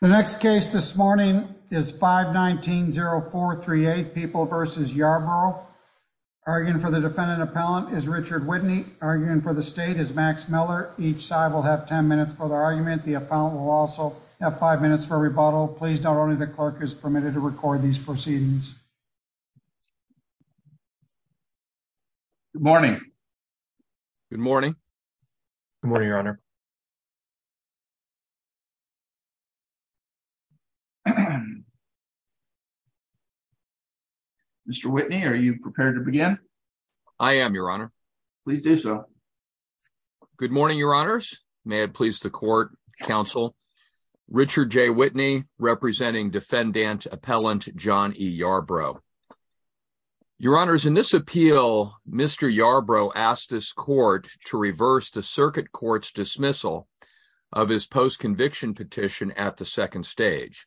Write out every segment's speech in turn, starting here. The next case this morning is 519-0438 People v. Yarbrough. Arguing for the defendant appellant is Richard Whitney. Arguing for the state is Max Miller. Each side will have 10 minutes for their argument. The appellant will also have five minutes for rebuttal. Please note only the clerk is permitted to record these proceedings. Good morning. Good morning. Good morning, Your Honor. Mr. Whitney, are you prepared to begin? I am, Your Honor. Please do so. Good morning, Your Honors. May it please the court, counsel. Richard J. Whitney, representing defendant appellant John E. Yarbrough. Your Honors, in this appeal, Mr. Yarbrough asked this court to reverse the circuit court's dismissal of his post-conviction petition at the second stage,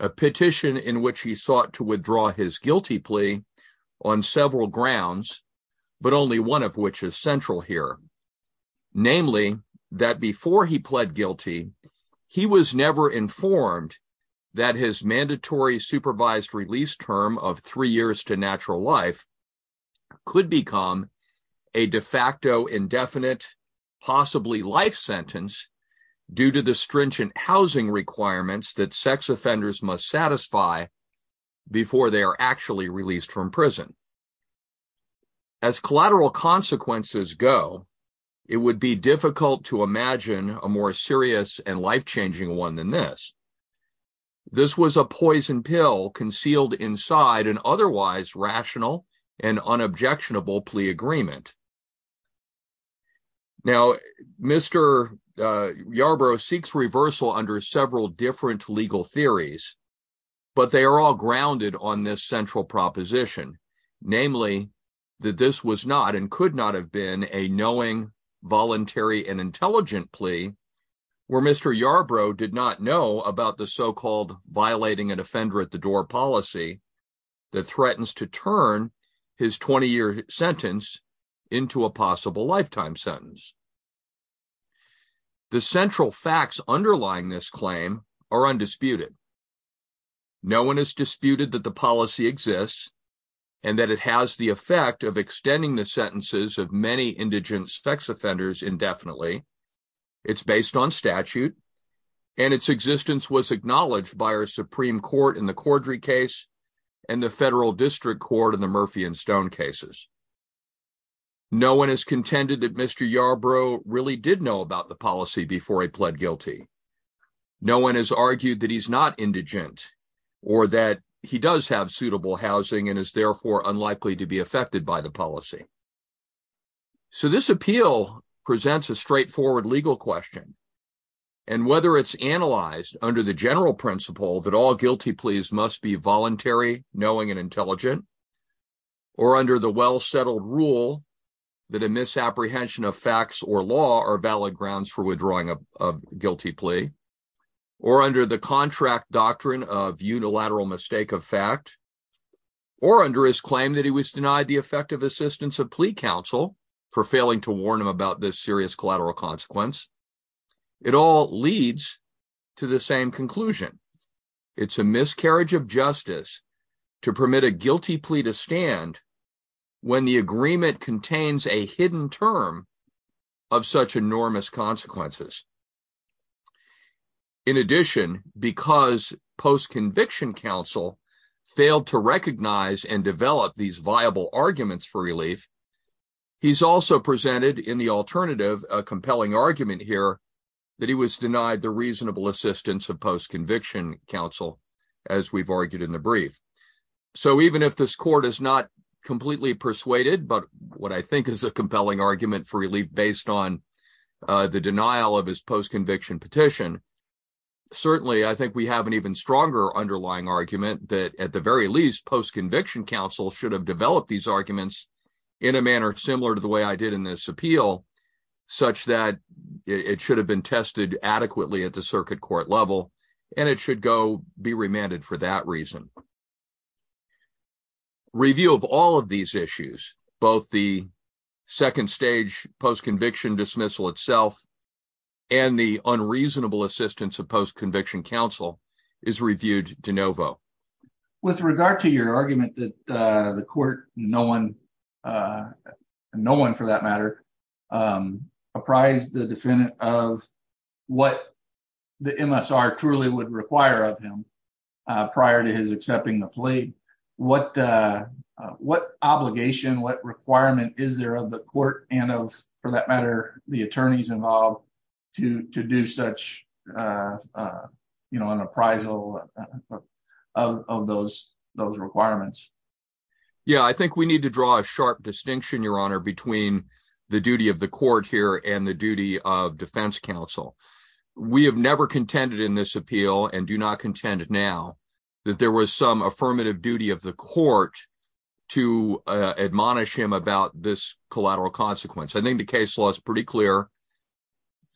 a petition in which he sought to withdraw his guilty plea on several grounds, but only one of which is central here. Namely, that before he pled guilty, he was never informed that his indefinite, possibly life sentence due to the stringent housing requirements that sex offenders must satisfy before they are actually released from prison. As collateral consequences go, it would be difficult to imagine a more serious and life-changing one than this. This was a poison pill concealed inside an otherwise rational and unobjectionable plea agreement. Now, Mr. Yarbrough seeks reversal under several different legal theories, but they are all grounded on this central proposition. Namely, that this was not and could not have been a knowing, voluntary, and intelligent plea where Mr. Yarbrough did not know about the so-called violating an offender at the door policy that threatens to turn his 20-year sentence into a possible lifetime sentence. The central facts underlying this claim are undisputed. No one has disputed that the policy exists and that it has the effect of extending the sentences of many indigent sex offenders indefinitely. It's based on statute, and its existence was acknowledged by our Supreme Court in the Cordry case and the Federal District Court in the Murphy and Stone cases. No one has contended that Mr. Yarbrough really did know about the policy before he pled guilty. No one has argued that he's not indigent or that he does have suitable housing and is therefore unlikely to be affected by the policy. So, this appeal presents a straightforward legal question, and whether it's analyzed under the general principle that all guilty pleas must be voluntary, knowing, and intelligent, or under the well-settled rule that a misapprehension of facts or law are valid grounds for withdrawing a guilty plea, or under the contract doctrine of unilateral mistake of fact, or under his claim that he was denied the effective assistance of plea counsel for failing to warn him about this serious collateral consequence, it all leads to the same conclusion. It's a miscarriage of justice to permit a guilty plea to stand when the agreement contains a hidden term of such enormous consequences. In addition, because post-conviction counsel failed to recognize and develop these viable arguments for relief, he's also presented in the alternative a compelling argument here that he was denied the reasonable assistance of post-conviction counsel, as we've argued in the brief. So, even if this court is not completely persuaded by what I think is a compelling argument for relief based on the denial of his post-conviction petition, certainly I think we have an even stronger underlying argument that, at the very least, post-conviction counsel should have developed these arguments in a manner similar to the way I did in this appeal, such that it should have been tested adequately at the circuit court level, and it should go be remanded for that reason. Review of all of these issues, both the second stage post-conviction dismissal itself and the unreasonable assistance of post-conviction counsel, is reviewed de novo. With regard to your argument that the court, no one for that matter, apprised the defendant of what the MSR truly would require of him prior to his accepting the plea, what obligation, what requirement is there of the court and of, for that matter, the attorneys involved to do such an appraisal of those requirements? Yeah, I think we need to draw a sharp distinction, Your Honor, between the duty of the court here and the duty of defense counsel. We have never contended in this appeal, and do not contend now, that there was some affirmative duty of the court to admonish him about this collateral consequence. I think the case law is pretty clear.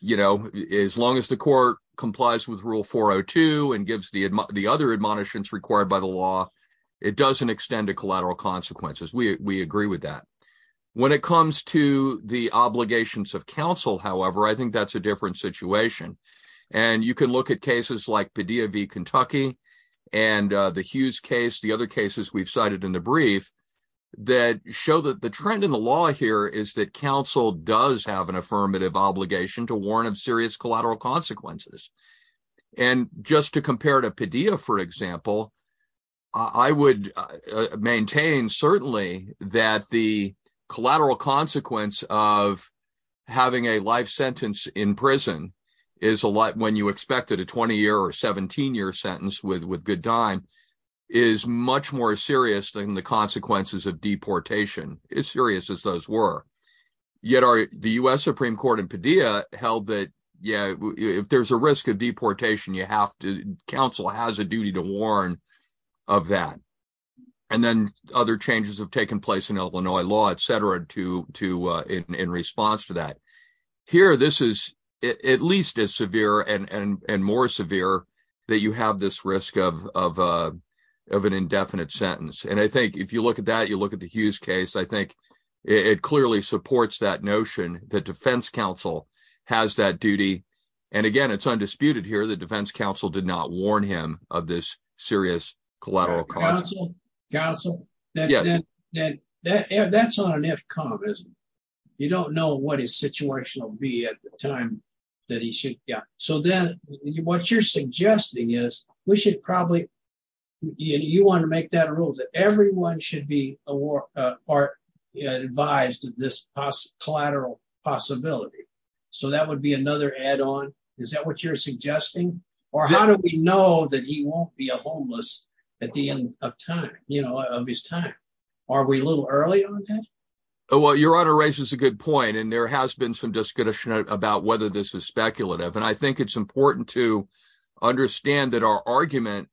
As long as the court complies with Rule 402 and gives the other admonitions required by the law, it doesn't extend to collateral consequences. We agree with that. When it comes to the obligations of counsel, however, I think that's a different situation. You can look at cases like Padilla v. Kentucky and the Hughes case, the other cases we've cited in the brief, that show that the trend in the law here is that counsel does have an affirmative obligation to warn of serious collateral consequences. And just to compare to Padilla, for example, I would maintain certainly that the collateral consequence of having a life sentence in prison is a lot when you expect it, a 20-year or 17-year sentence with good time, is much more serious than the consequences of deportation, as serious as those were. Yet the U.S. Supreme Court in Padilla held that, yeah, if there's a risk of deportation, counsel has a duty to warn of that. And then other changes have taken place in Illinois law, et cetera, in response to that. Here, this is at least as severe and more severe that you have this risk of an indefinite sentence. And I think if you look at that, you look at the Hughes case, I think it clearly supports that notion that defense counsel has that duty. And again, it's undisputed here that defense counsel did not warn him of this serious collateral consequence. Counsel, counsel, that's not an if, commas. You don't know what his situation will be at the time that he should, yeah. So then what you're suggesting is we should probably, you want to make that a rule that everyone should be advised of this collateral possibility. So that would be another add-on. Is that what you're suggesting? Or how do we know that he won't be a homeless at the end of time, you know, of his time? Are we a little early on that? Well, your honor raises a good point. And there has been some discretion about whether this is important. It's important to understand that our argument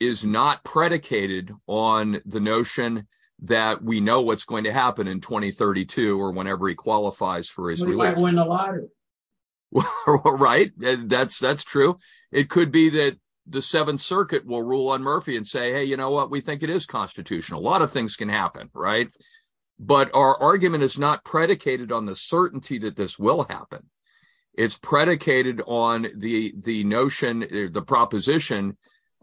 is not predicated on the notion that we know what's going to happen in 2032 or whenever he qualifies for his release. He might win the lottery. Right. That's true. It could be that the Seventh Circuit will rule on Murphy and say, hey, you know what? We think it is constitutional. A lot of things can happen, right? But our argument is not predicated on the certainty that this will happen. It's predicated on the notion, the proposition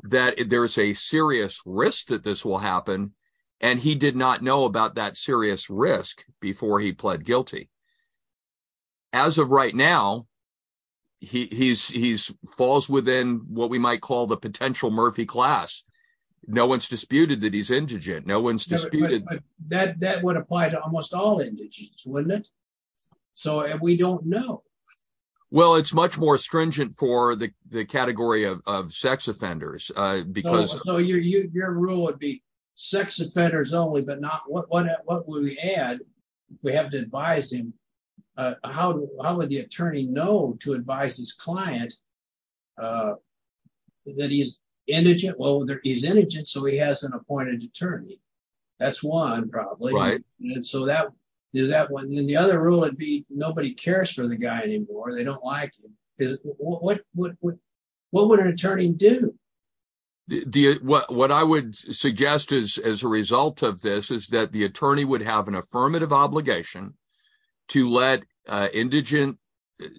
that there is a serious risk that this will happen. And he did not know about that serious risk before he pled guilty. As of right now, he falls within what we might call the potential Murphy class. No one's disputed that he's indigent. No one's disputed. That would apply to almost all indigents, wouldn't it? So we don't know. Well, it's much more stringent for the category of sex offenders. Your rule would be sex offenders only, but what would we add if we have to advise him? How would the attorney know to advise his client that he's indigent? Well, he's indigent, so he has an appointed attorney. That's one, probably. And then the other rule would be nobody cares for the guy anymore. They don't like him. What would an attorney do? What I would suggest as a result of this is that the attorney would have an affirmative obligation to let indigent,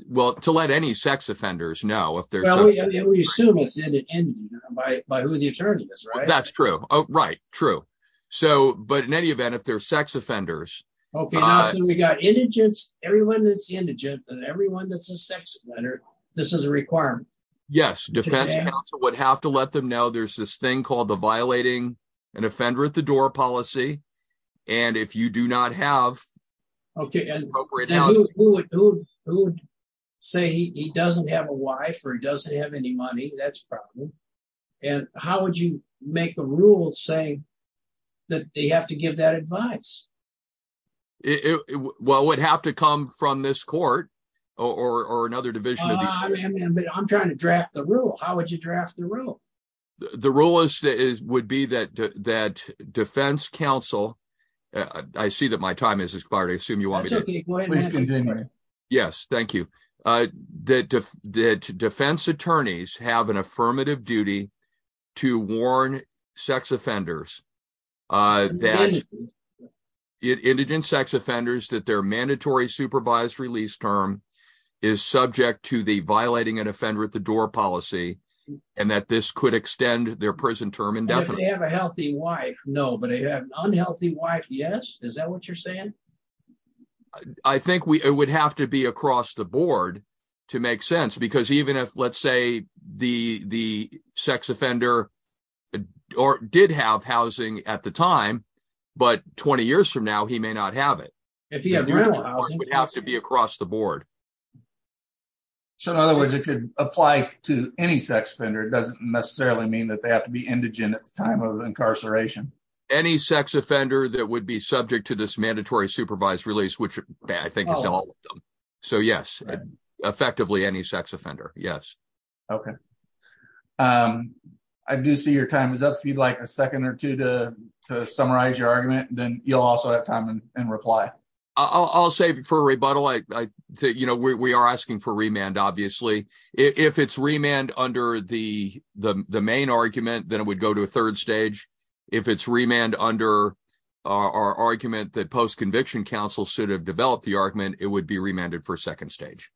well, to let any sex offenders know if they're... Well, we assume it's indigent by who the attorney is, right? That's true. Oh, right. True. So, but in any event, if they're sex offenders... Okay. Now, so we got indigents, everyone that's indigent, and everyone that's a sex offender, this is a requirement. Yes. Defense counsel would have to let them know there's this thing called the violating an offender at the door policy. And if you do not have appropriate... Okay. And who would say he doesn't have a wife, or he doesn't have any money? That's a problem. And how would you make the rule say that they have to give that advice? Well, it would have to come from this court or another division of the... I'm trying to draft the rule. How would you draft the rule? The rule would be that defense counsel... I see that my time has expired. I assume you want me to... That's okay. Please continue. Yes. Thank you. That defense attorneys have an affirmative duty to warn sex offenders that indigent sex offenders, that their mandatory supervised release term is subject to the violating an offender at the door policy, and that this could extend their prison term indefinitely. If they have a healthy wife, no. But if they have an unhealthy wife, yes. Is that what you're saying? I think it would have to be across the board to make sense. Because even if, let's say, the sex offender did have housing at the time, but 20 years from now, he may not have it. If he had real housing... It would have to be across the board. So, in other words, it could apply to any sex offender. It doesn't necessarily mean that they have to be indigent at the time of incarceration. Any sex offender that would be subject to this mandatory supervised release, which I think is all of them. So, yes. Effectively, any sex offender. Yes. Okay. I do see your time is up. If you'd like a second or two to summarize your argument, then you'll also have time and reply. I'll say for a rebuttal, we are asking for remand, obviously. If it's remand under the main argument, then it would go to a third stage. If it's remand under our argument that post-conviction counsel should have developed the argument, it would be remanded for a second stage.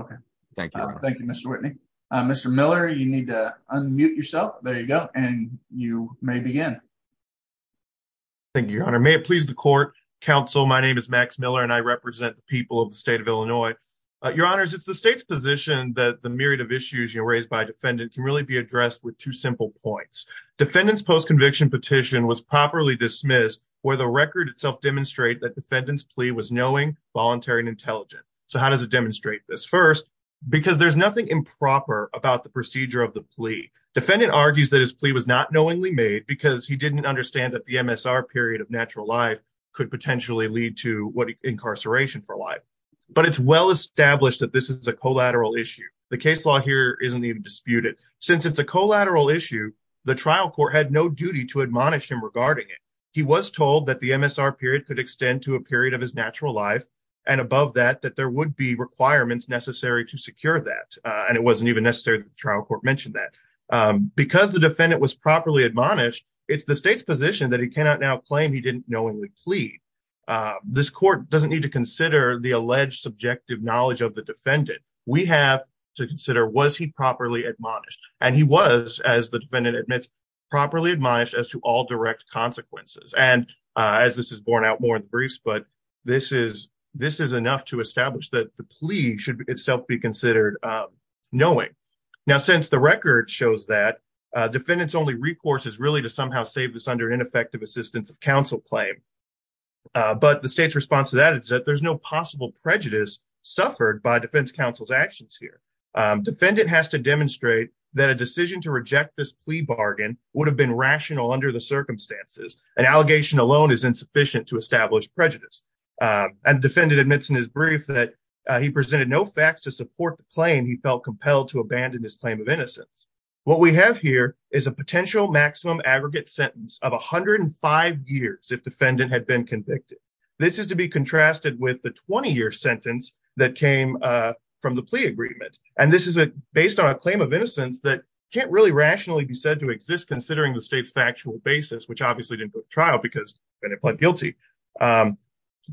Okay. Thank you. Thank you, Mr. Whitney. Mr. Miller, you need to unmute yourself. There you go. And you may begin. Thank you, Your Honor. May it please the court. Counsel, my name is Max Miller and I represent the people of the state of Illinois. Your Honors, it's the state's position that the myriad of issues raised by a defendant can really be addressed with two simple points. Defendant's post-conviction petition was properly dismissed where the record itself demonstrates that defendant's plea was knowing, voluntary, and intelligent. So, how does it demonstrate this? First, because there's nothing improper about the procedure of the plea. Defendant argues that his didn't understand that the MSR period of natural life could potentially lead to incarceration for life. But it's well established that this is a collateral issue. The case law here isn't even disputed. Since it's a collateral issue, the trial court had no duty to admonish him regarding it. He was told that the MSR period could extend to a period of his natural life, and above that, that there would be requirements necessary to secure that. And it wasn't even necessary that trial court mentioned that. Because the defendant was properly admonished, it's the state's position that he cannot now claim he didn't knowingly plead. This court doesn't need to consider the alleged subjective knowledge of the defendant. We have to consider was he properly admonished. And he was, as the defendant admits, properly admonished as to all direct consequences. And as this is borne out more in the briefs, but this is enough to establish that the plea should itself be considered knowing. Now, since the record shows that, defendants only recourse is really to somehow save this under ineffective assistance of counsel claim. But the state's response to that is that there's no possible prejudice suffered by defense counsel's actions here. Defendant has to demonstrate that a decision to reject this plea bargain would have been rational under the circumstances. An allegation alone is insufficient to establish prejudice. And the defendant admits in his brief that he presented no facts to support the claim he felt compelled to abandon his claim of innocence. What we have here is a potential maximum aggregate sentence of 105 years if defendant had been convicted. This is to be contrasted with the 20-year sentence that came from the plea agreement. And this is based on a claim of innocence that can't really rationally be said to exist considering the state's factual basis, which obviously didn't go to trial because defendant pled guilty.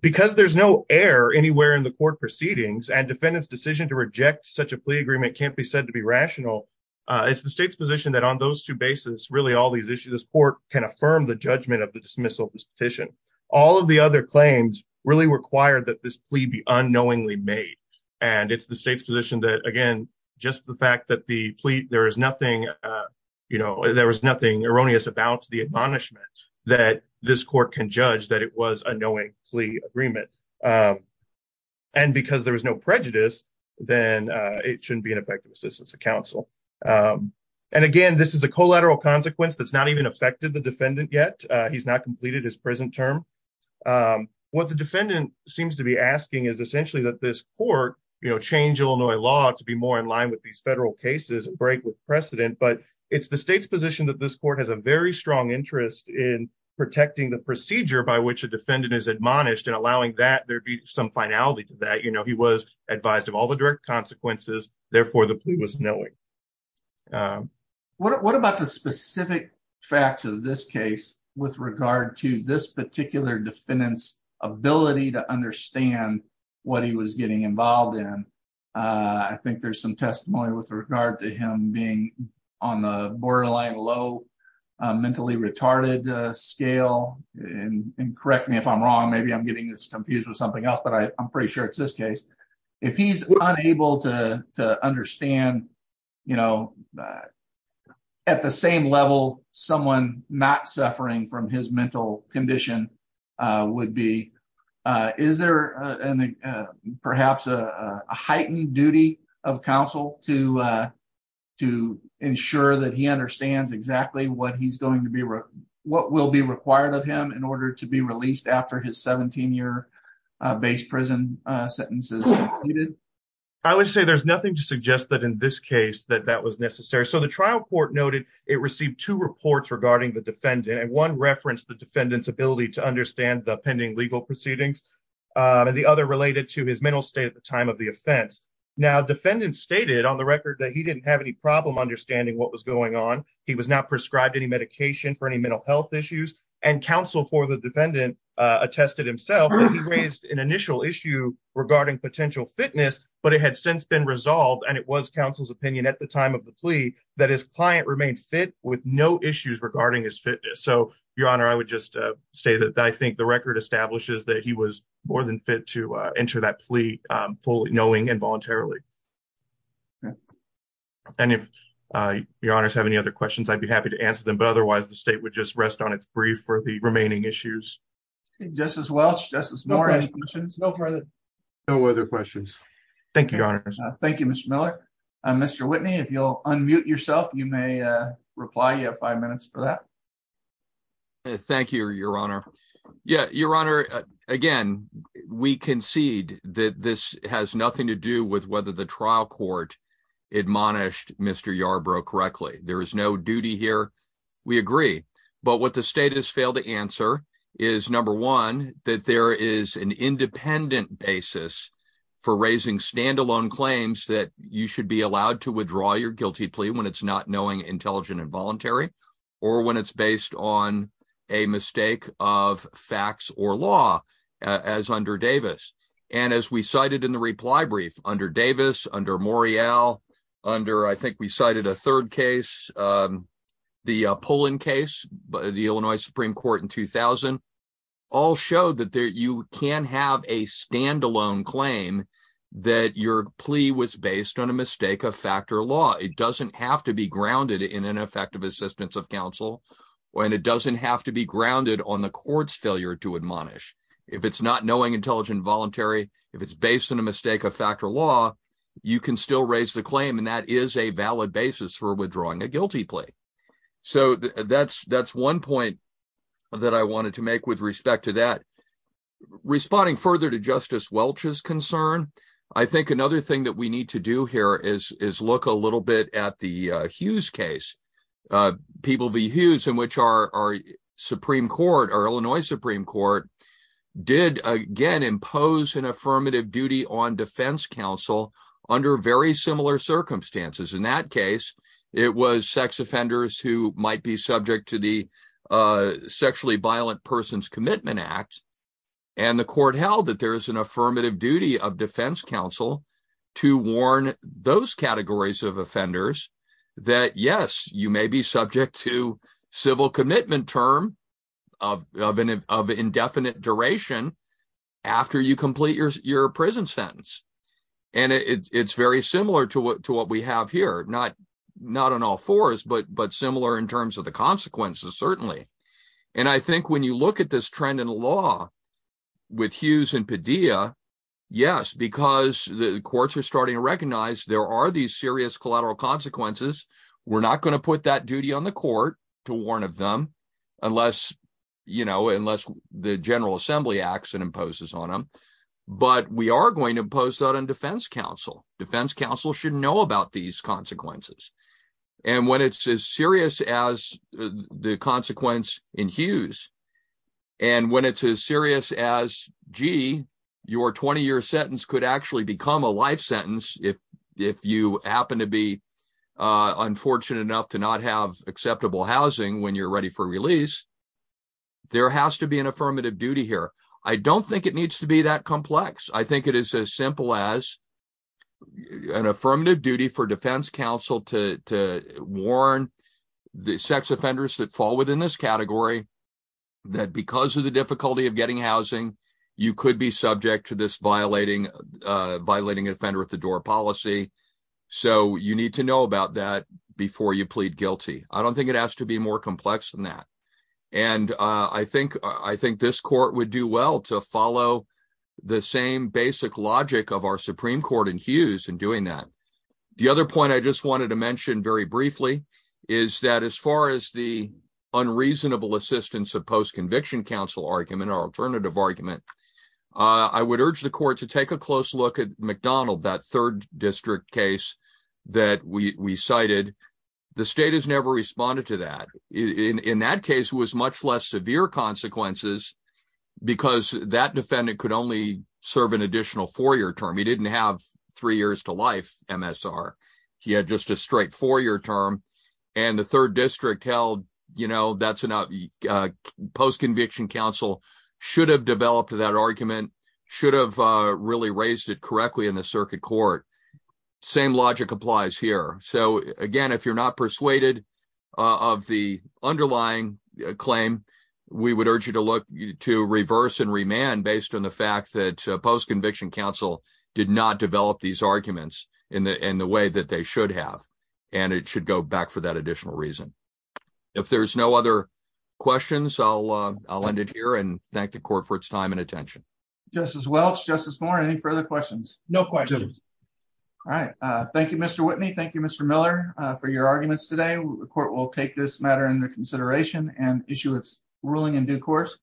Because there's no air anywhere in the court proceedings, and defendant's decision to reject such a plea agreement can't be said to be rational, it's the state's position that on those two bases, really all these issues, this court can affirm the judgment of the dismissal of this petition. All of the other claims really require that this plea be unknowingly made. And it's the state's position that, again, just the fact that the plea, there was nothing erroneous about the punishment that this court can judge that it was a knowing plea agreement. And because there was no prejudice, then it shouldn't be an effective assistance to counsel. And again, this is a collateral consequence that's not even affected the defendant yet. He's not completed his prison term. What the defendant seems to be asking is essentially that this court, you know, change Illinois law to be more in line with these federal cases, break with precedent, but it's the state's position that this court has a very strong interest in protecting the procedure by which a defendant is admonished and allowing that there'd be some finality to that, you know, he was advised of all the direct consequences, therefore, the plea was knowing. What about the specific facts of this case, with regard to this particular defendant's ability to understand what he was getting involved in? I think there's some testimony with regard to him being on the borderline low, mentally retarded scale, and correct me if I'm wrong, maybe I'm getting confused with something else, but I'm pretty sure it's this case. If he's unable to understand, you know, at the same level, someone not suffering from his mental condition would be, is there perhaps a heightened duty of counsel to ensure that he understands exactly what he's going to be, what will be required of him in order to be released after his 17 year base prison sentences? I would say there's nothing to suggest that in this case, that that was necessary. So the trial court noted it received two reports regarding the defendant, and one referenced the defendant's ability to understand the pending legal proceedings, and the other related to his mental state at the time of the offense. Now, defendants stated on the record that he didn't have any problem understanding what was going on, he was not prescribed any medication for any mental health issues, and counsel for the defendant attested himself that he raised an initial issue regarding potential fitness, but it had since been resolved, and it was counsel's opinion at the time of the plea that his client remained fit with no issues regarding his fitness. So your honor, I would just say that I think the record establishes that he was more than fit to enter that plea fully knowing and voluntarily. And if your honors have any other questions, I'd be happy to answer them, but otherwise the state would just rest on its brief for the remaining issues. Justice Welch, Justice Moore, any questions? No further questions. Thank you, your honors. Thank you, Mr. Miller. Mr. Whitney, if you'll unmute yourself, you may reply. You have five minutes for that. Thank you, your honor. Yeah, your honor, again, we concede that this has nothing to do with whether the trial court admonished Mr. Yarbrough correctly. There is no duty here. We agree, but what the state has failed to answer is, number one, that there is an independent basis for raising standalone claims that you should be allowed to make when it's based on facts or law, whether it's based on facts or law as under Davis. And as we cited in the reply brief, under Davis, under Morial, under I think we cited a third case, the Pullen case, the Illinois Supreme Court in 2000, all showed that you can have a standalone claim that your plea was based on a mistake of fact or law. It doesn't have to be grounded in an effective assistance of counsel, and it doesn't have to be grounded on the court's failure to admonish. If it's not knowing, intelligent, voluntary, if it's based on a mistake of fact or law, you can still raise the claim, and that is a valid basis for withdrawing a guilty plea. So that's one point that I wanted to make with respect to that. Responding further to Justice Welch's concern, I think another thing that we need to do here is look a little bit at the Hughes case, People v. Hughes, in which our Supreme Court, our Illinois Supreme Court, did again impose an affirmative duty on defense counsel under very similar circumstances. In that case, it was sex offenders who might be subject to the Sexually Violent Persons Commitment Act, and the court held that there is an affirmative duty of defense counsel to warn those categories of offenders that, yes, you may be subject to civil commitment term of indefinite duration after you complete your prison sentence. And it's very similar to what we have here, not on all fours, but similar in terms of the consequences, certainly. And I think when you look at this trend in law with Hughes and Padilla, yes, because the courts are starting to recognize there are these serious collateral consequences, we're not going to put that duty on the court to warn of them unless, you know, unless the General Assembly acts and imposes on them. But we are going to impose that on defense counsel. Defense counsel should know about these in Hughes. And when it's as serious as, gee, your 20-year sentence could actually become a life sentence if you happen to be unfortunate enough to not have acceptable housing when you're ready for release, there has to be an affirmative duty here. I don't think it needs to be that complex. I think it is as simple as an affirmative duty for defense counsel to warn the sex offenders that fall within this category that because of the difficulty of getting housing, you could be subject to this violating offender-at-the-door policy. So you need to know about that before you plead guilty. I don't think it has to be more complex than that. And I think this court would do well to follow the same basic logic of our Supreme Court in Hughes in doing that. The other point I just wanted to mention very briefly is that as far as the unreasonable assistance of post-conviction counsel argument or alternative argument, I would urge the court to take a close look at McDonald, that third district case that we cited. The state has never responded to that. In that case, it was much less severe consequences because that defendant could only serve an additional four-year term. He had just a straight four-year term. And the third district held that post-conviction counsel should have developed that argument, should have really raised it correctly in the circuit court. Same logic applies here. So again, if you're not persuaded of the underlying claim, we would urge you to look to reverse and remand based on the fact that post-conviction counsel did not develop these arguments in the way that they should have. And it should go back for that additional reason. If there's no other questions, I'll end it here and thank the court for its time and attention. Justice Welch, Justice Moore, any further questions? No questions. All right. Thank you, Mr. Whitney. Thank you, Mr. Miller, for your arguments today. The court will take this matter into consideration and issue its ruling in due course.